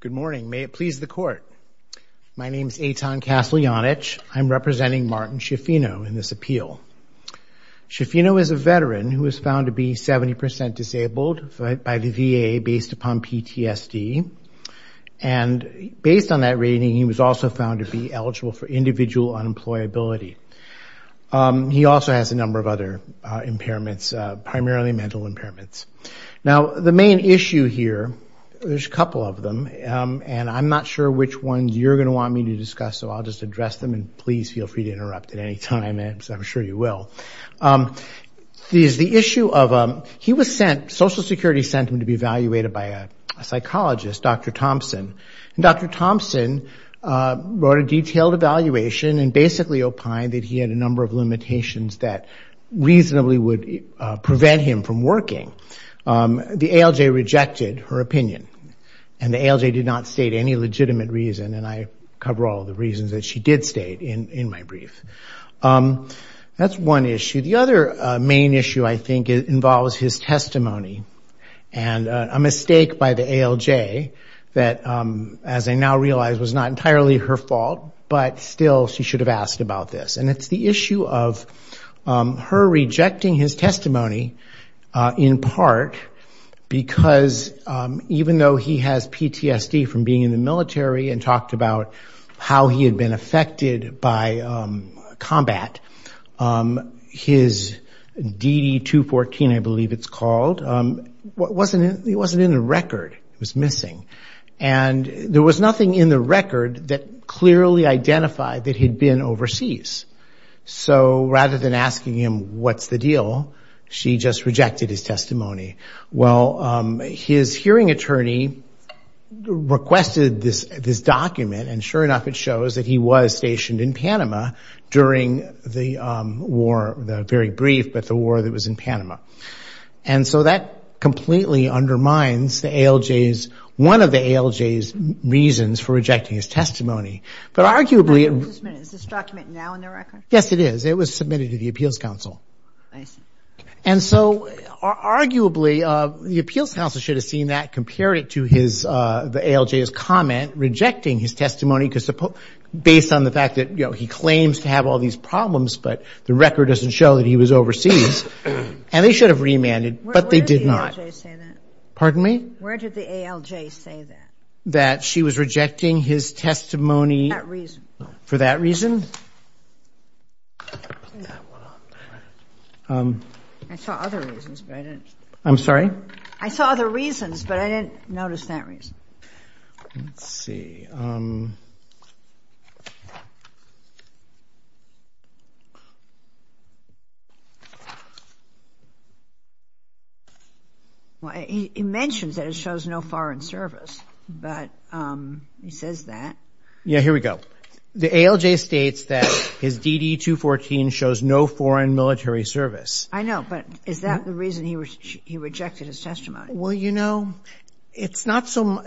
Good morning. May it please the court. My name is Eitan Kaslianich. I'm representing Martin Schiaffino in this appeal. Schiaffino is a veteran who was found to be 70% disabled by the VA based upon PTSD. And based on that rating, he was also found to be eligible for individual unemployability. He also has a number of other impairments, primarily mental impairments. Now, the main issue here, there's a couple of them, and I'm not sure which ones you're going to want me to discuss, so I'll just address them, and please feel free to interrupt at any time, as I'm sure you will. The issue of, he was sent, Social Security sent him to be evaluated by a psychologist, Dr. Thompson. And Dr. Thompson wrote a detailed evaluation and basically opined that he had a number of limitations that reasonably would prevent him from working. The ALJ rejected her opinion, and the ALJ did not state any legitimate reason, and I cover all the reasons that she did state in my brief. That's one issue. The other main issue, I think, involves his testimony and a mistake by the ALJ that, as I now realize, was not entirely her fault, but still she should have asked about this. And it's the issue of her rejecting his testimony in part because even though he has PTSD from being in the military and talked about how he had been affected by combat, his DD-214, I believe it's called, it wasn't in the record. It was missing. And there was nothing in the record that clearly identified that he'd been overseas. So rather than asking him what's the deal, she just rejected his testimony. Well, his hearing attorney requested this document, and sure enough it shows that he was stationed in Panama during the war, the very brief, but the war that was in Panama. And so that completely undermines the ALJ's, one of the ALJ's reasons for rejecting his testimony. But arguably... Is this document now in the record? Yes, it is. It was submitted to the Appeals Council. I see. And so arguably the Appeals Council should have seen that, compared it to the ALJ's comment, rejecting his testimony based on the fact that he claims to have all these problems, but the record doesn't show that he was overseas. And they should have remanded, but they did not. Where did the ALJ say that? That she was rejecting his testimony... For that reason. For that reason? I saw other reasons, but I didn't... I'm sorry? I saw other reasons, but I didn't notice that reason. Let's see. He mentions that it shows no foreign service, but he says that. Yeah, here we go. The ALJ states that his DD-214 shows no foreign military service. I know, but is that the reason he rejected his testimony? Well, you know, it's not so...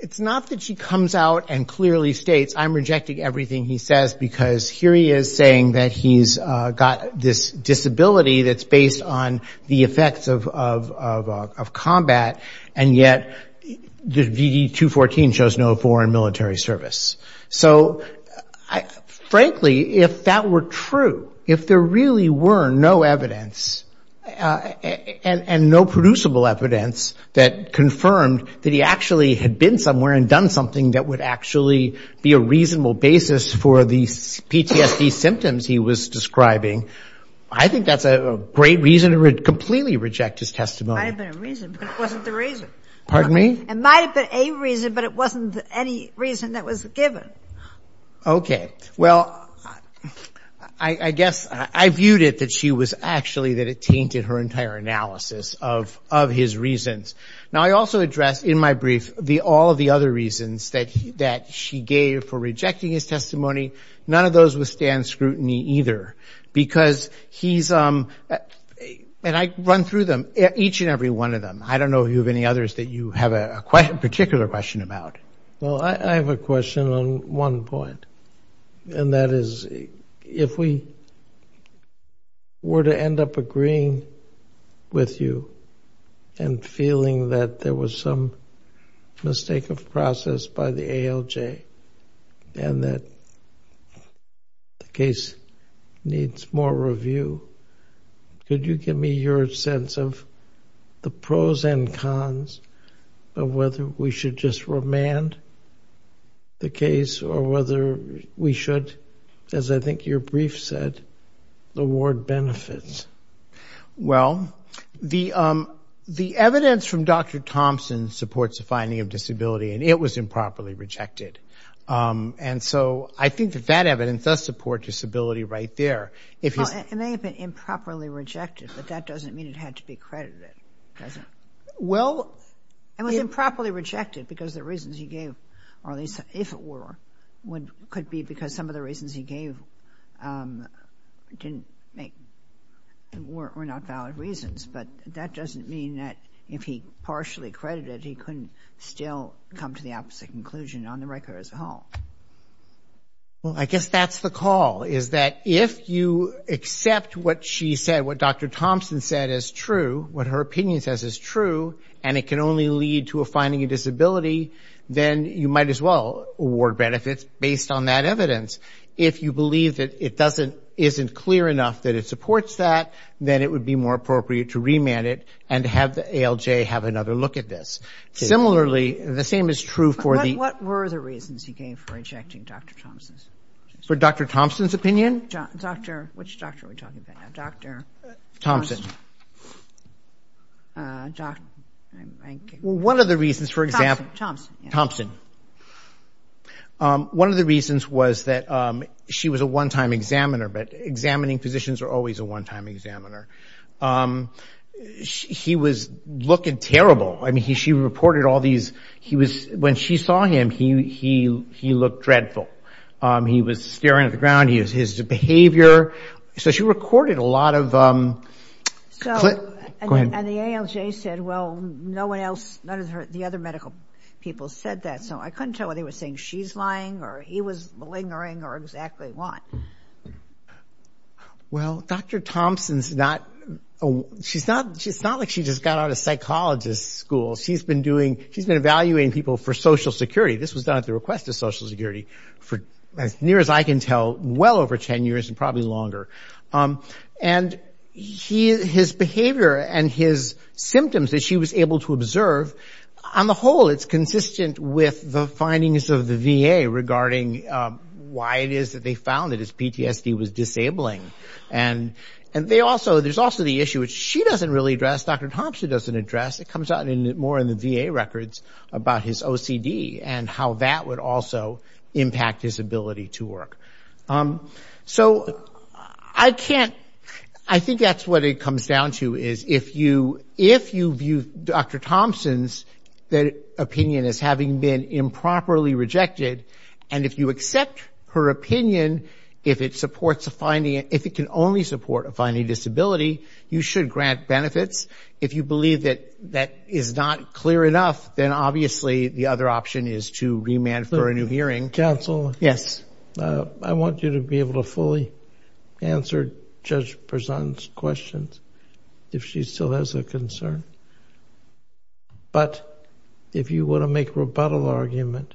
It's not that she comes out and clearly states, I'm rejecting everything he says, because here he is saying that he's got this disability that's based on the effects of combat, and yet the DD-214 shows no foreign military service. So, frankly, if that were true, if there really were no evidence, and no producible evidence that confirmed that he actually had been somewhere and done something that would actually be a reasonable basis for these PTSD symptoms, which he was describing, I think that's a great reason to completely reject his testimony. It might have been a reason, but it wasn't the reason. Pardon me? It might have been a reason, but it wasn't any reason that was given. Okay. Well, I guess I viewed it that she was actually... that it tainted her entire analysis of his reasons. Now, I also addressed in my brief all of the other reasons that she gave for rejecting his testimony. None of those withstand scrutiny either, because he's... And I run through them, each and every one of them. I don't know if you have any others that you have a particular question about. Well, I have a question on one point, and that is, if we were to end up agreeing with you and feeling that there was some mistake of process, by the ALJ, and that the case needs more review, could you give me your sense of the pros and cons of whether we should just remand the case or whether we should, as I think your brief said, reward benefits? Well, the evidence from Dr. Thompson supports the finding of disability, and it was improperly rejected. And so I think that that evidence does support disability right there. It may have been improperly rejected, but that doesn't mean it had to be credited, does it? Well... It was improperly rejected because the reasons he gave, or at least if it were, could be because some of the reasons he gave were not valid reasons, but that doesn't mean that if he partially credited, he couldn't still come to the opposite conclusion on the record as a whole. Well, I guess that's the call, is that if you accept what she said, what Dr. Thompson said is true, what her opinion says is true, and it can only lead to a finding of disability, then you might as well award benefits based on that evidence. If you believe that it isn't clear enough that it supports that, then it would be more appropriate to remand it and have the ALJ have another look at this. Similarly, the same is true for the... What were the reasons he gave for rejecting Dr. Thompson's opinion? For Dr. Thompson's opinion? Which doctor are we talking about now? Thompson. Well, one of the reasons, for example... Thompson. One of the reasons was that she was a one-time examiner, but examining physicians are always a one-time examiner. He was looking terrible. I mean, she reported all these... When she saw him, he looked dreadful. He was staring at the ground. His behavior... So she recorded a lot of... And the ALJ said, well, no one else... None of the other medical people said that, so I couldn't tell whether he was saying she's lying or he was lingering or exactly what. Well, Dr. Thompson's not... It's not like she just got out of psychologist school. She's been doing... She's been evaluating people for Social Security. This was done at the request of Social Security for, as near as I can tell, well over 10 years and probably longer. And his behavior and his symptoms that she was able to observe, on the whole, it's consistent with the findings of the VA regarding why it is that they found that his PTSD was disabling. And there's also the issue which she doesn't really address, Dr. Thompson doesn't address. It comes out more in the VA records about his OCD and how that would also impact his ability to work. So I can't... I think that's what it comes down to is if you view Dr. Thompson's opinion as having been improperly rejected, and if you accept her opinion, if it supports a finding... if it can only support a finding of disability, you should grant benefits. If you believe that that is not clear enough, then obviously the other option is to remand for a new hearing. Counsel, I want you to be able to fully answer Judge Prezant's questions if she still has a concern. But if you want to make a rebuttal argument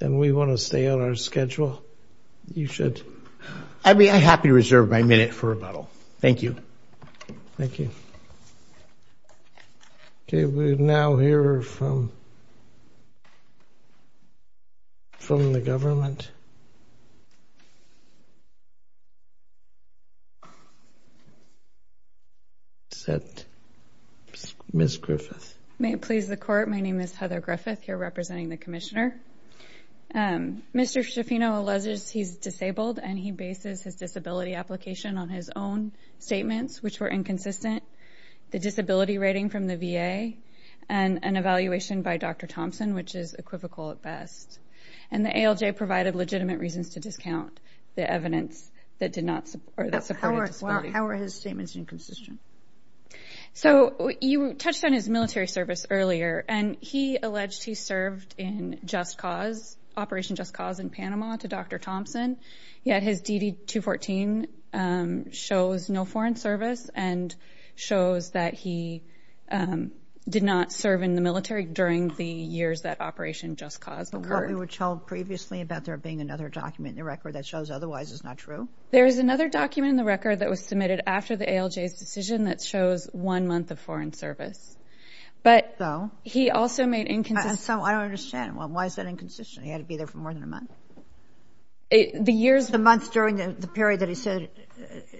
and we want to stay on our schedule, you should. I happily reserve my minute for rebuttal. Thank you. Thank you. Okay, we now hear from... from the government. Ms. Griffith. May it please the Court, my name is Heather Griffith, here representing the Commissioner. Mr. Schifino alleges he's disabled and he bases his disability application on his own statements, which were inconsistent, the disability rating from the VA, and an evaluation by Dr. Thompson, which is equivocal at best. And the ALJ provided legitimate reasons to discount the evidence that supported disability. How are his statements inconsistent? So you touched on his military service earlier, and he alleged he served in Operation Just Cause in Panama to Dr. Thompson, yet his DD-214 shows no foreign service and shows that he did not serve in the military during the years that Operation Just Cause occurred. But what we were told previously about there being another document in the record that shows otherwise is not true. There is another document in the record that was submitted after the ALJ's decision that shows one month of foreign service. So? But he also made inconsistent... I don't understand. Why is that inconsistent? He had to be there for more than a month? The years... The month during the period that he said...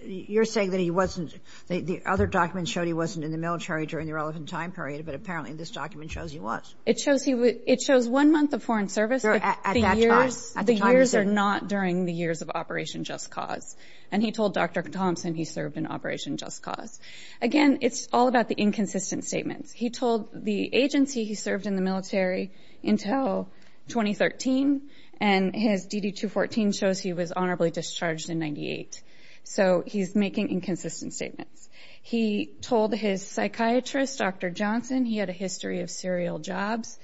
You're saying that he wasn't... But apparently this document shows he was. It shows one month of foreign service, but the years are not during the years of Operation Just Cause. And he told Dr. Thompson he served in Operation Just Cause. Again, it's all about the inconsistent statements. He told the agency he served in the military until 2013, and his DD-214 shows he was honorably discharged in 1998. So he's making inconsistent statements. He told his psychiatrist, Dr. Johnson, he had a history of serial jobs,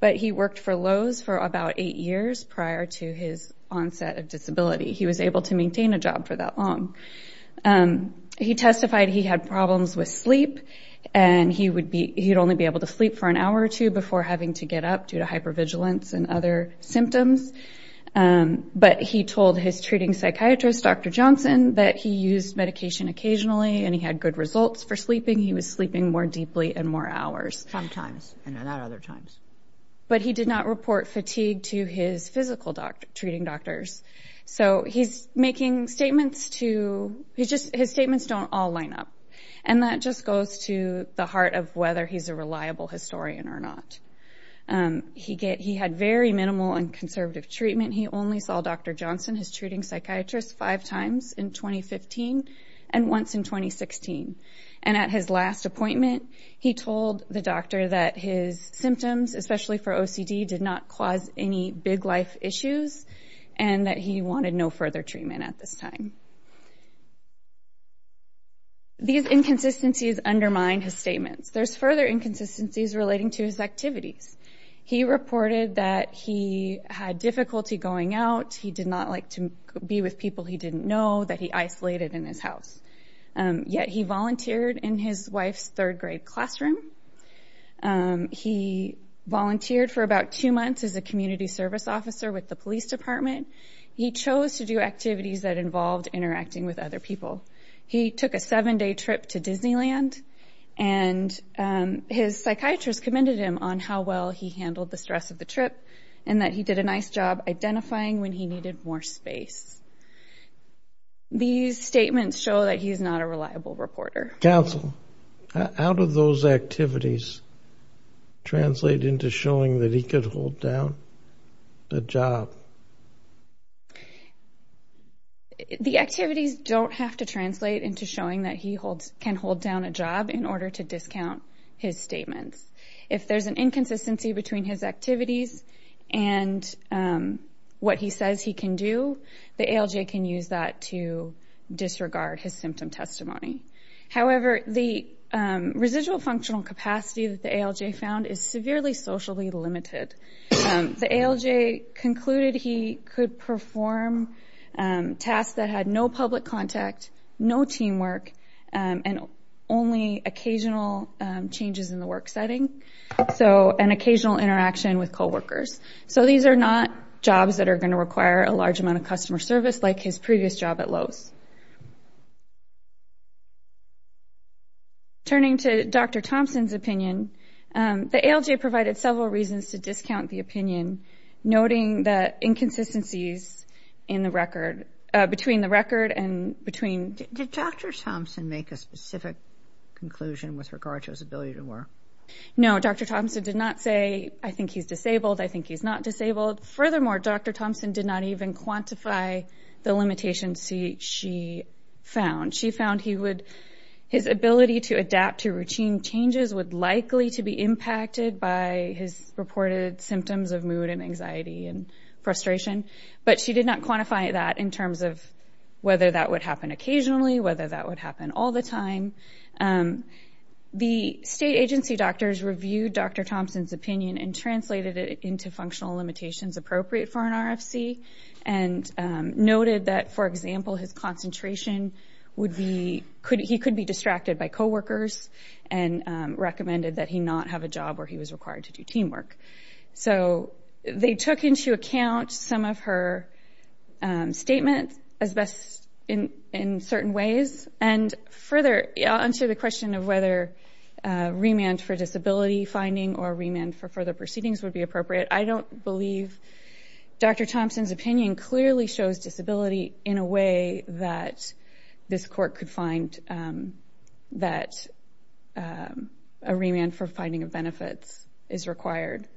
but he worked for Lowe's for about eight years prior to his onset of disability. He was able to maintain a job for that long. He testified he had problems with sleep, and he would only be able to sleep for an hour or two before having to get up due to hypervigilance and other symptoms. But he told his treating psychiatrist, Dr. Johnson, that he used medication occasionally and he had good results for sleeping. He was sleeping more deeply and more hours. Sometimes, and not other times. But he did not report fatigue to his physical treating doctors. So he's making statements to... His statements don't all line up. And that just goes to the heart of whether he's a reliable historian or not. He had very minimal and conservative treatment. He only saw Dr. Johnson, his treating psychiatrist, five times in 2015 and once in 2016. And at his last appointment, he told the doctor that his symptoms, especially for OCD, did not cause any big life issues and that he wanted no further treatment at this time. These inconsistencies undermine his statements. There's further inconsistencies relating to his activities. He reported that he had difficulty going out. He did not like to be with people he didn't know. That he isolated in his house. Yet he volunteered in his wife's third grade classroom. He volunteered for about two months as a community service officer with the police department. He chose to do activities that involved interacting with other people. He took a seven-day trip to Disneyland. And his psychiatrist commended him on how well he handled the stress of the trip and that he did a nice job identifying when he needed more space. These statements show that he is not a reliable reporter. Counsel, how do those activities translate into showing that he could hold down a job? The activities don't have to translate into showing that he can hold down a job in order to discount his statements. If there's an inconsistency between his activities and what he says he can do, the ALJ can use that to disregard his symptom testimony. However, the residual functional capacity that the ALJ found is severely socially limited. The ALJ concluded he could perform tasks that had no public contact, no teamwork, and only occasional changes in the work setting. So an occasional interaction with coworkers. So these are not jobs that are going to require a large amount of customer service like his previous job at Lowe's. Turning to Dr. Thompson's opinion, the ALJ provided several reasons to discount the opinion, noting the inconsistencies between the record and between... Did Dr. Thompson make a specific conclusion with regard to his ability to work? No, Dr. Thompson did not say, I think he's disabled, I think he's not disabled. Furthermore, Dr. Thompson did not even quantify the limitations she found. She found his ability to adapt to routine changes of mood and anxiety and frustration. But she did not quantify that in terms of whether that would happen occasionally, whether that would happen all the time. The state agency doctors reviewed Dr. Thompson's opinion and translated it into functional limitations appropriate for an RFC and noted that, for example, his concentration would be... He could be distracted by coworkers and recommended that he not have a job before he was required to do teamwork. They took into account some of her statements in certain ways. Further, I'll answer the question of whether remand for disability finding or remand for further proceedings would be appropriate. I don't believe Dr. Thompson's opinion clearly shows disability in a way that this court could find that a remand for finding of benefits is required.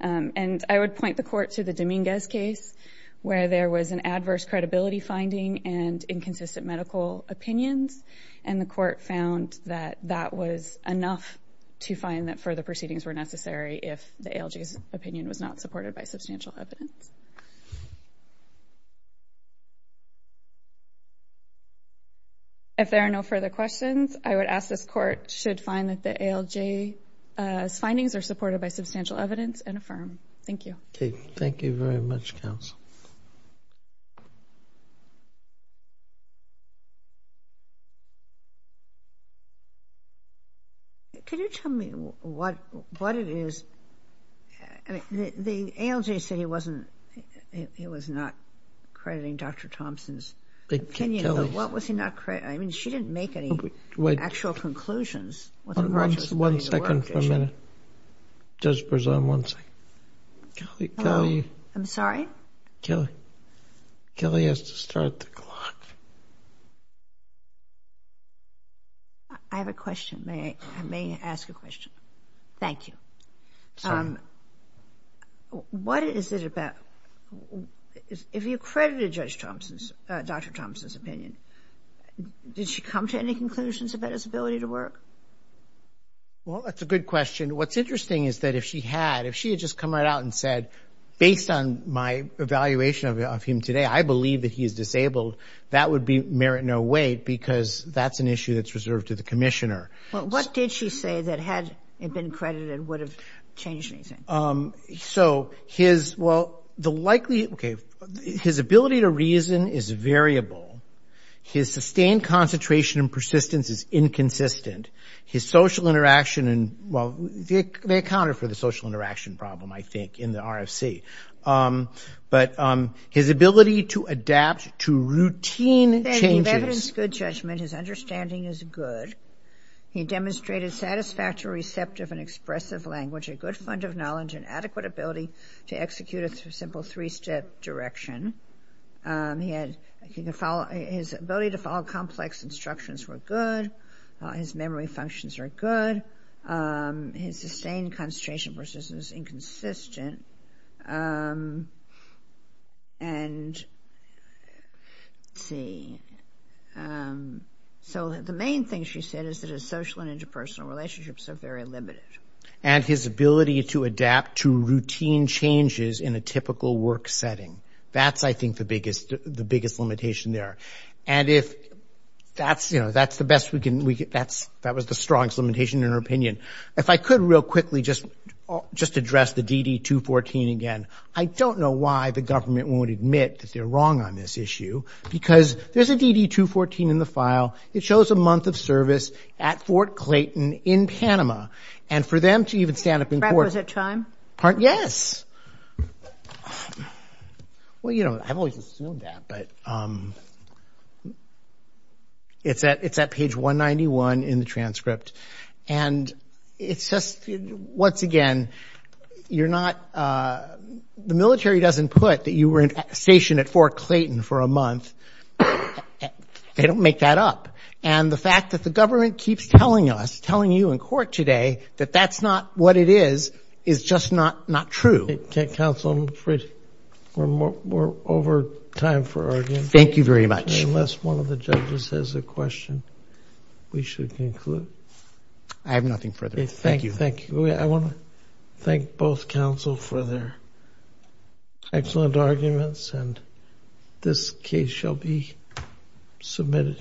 And I would point the court to the Dominguez case where there was an adverse credibility finding and inconsistent medical opinions, and the court found that that was enough to find that further proceedings were necessary if the ALG's opinion was not supported by substantial evidence. If there are no further questions, I would ask this court should find that the ALG's findings are supported by substantial evidence and affirm. Thank you. Thank you very much, counsel. Can you tell me what it is... The ALG said he wasn't... He was not crediting Dr. Thompson's opinion, but what was he not... I mean, she didn't make any actual conclusions. One second for a minute. Judge Berzon, one second. I'm sorry? Kelly has to start the clock. I have a question. May I ask a question? Thank you. Sorry. What is it about... If you credited Dr. Thompson's opinion, did she come to any conclusions about his ability to work? Well, that's a good question. What's interesting is that if she had, if she had just come right out and said, based on my evaluation of him today, I believe that he is disabled, that would merit no weight because that's an issue that's reserved to the commissioner. Well, what did she say that had it been credited would have changed anything? So his, well, the likely... Okay, his ability to reason is variable. His sustained concentration and persistence is inconsistent. His social interaction and... Well, they accounted for the social interaction problem, I think, in the RFC. But his ability to adapt to routine changes... He demonstrated satisfactory, receptive, and expressive language, a good fund of knowledge, and adequate ability to execute a simple three-step direction. His ability to follow complex instructions were good. His memory functions were good. His sustained concentration and persistence were inconsistent. And, let's see. So the main thing she said is that his social and interpersonal relationships are very limited. And his ability to adapt to routine changes in a typical work setting. That's, I think, the biggest limitation there. And if that's, you know, that's the best we can, that was the strongest limitation in her opinion. If I could real quickly just address the DD-214 again. I don't know why the government won't admit that they're wrong on this issue. Because there's a DD-214 in the file. It shows a month of service at Fort Clayton in Panama. And for them to even stand up in court... Yes. Well, you know, I've always assumed that. But it's at page 191 in the transcript. And it's just, once again, you're not, the military doesn't put that you were stationed at Fort Clayton for a month. They don't make that up. And the fact that the government keeps telling us, telling you in court today, that that's not what it is, is just not true. Counsel, I'm afraid we're over time for argument. Thank you very much. Unless one of the judges has a question, we should conclude. I have nothing further. Thank you. Thank you. I want to thank both counsel for their excellent arguments. And this case shall be submitted.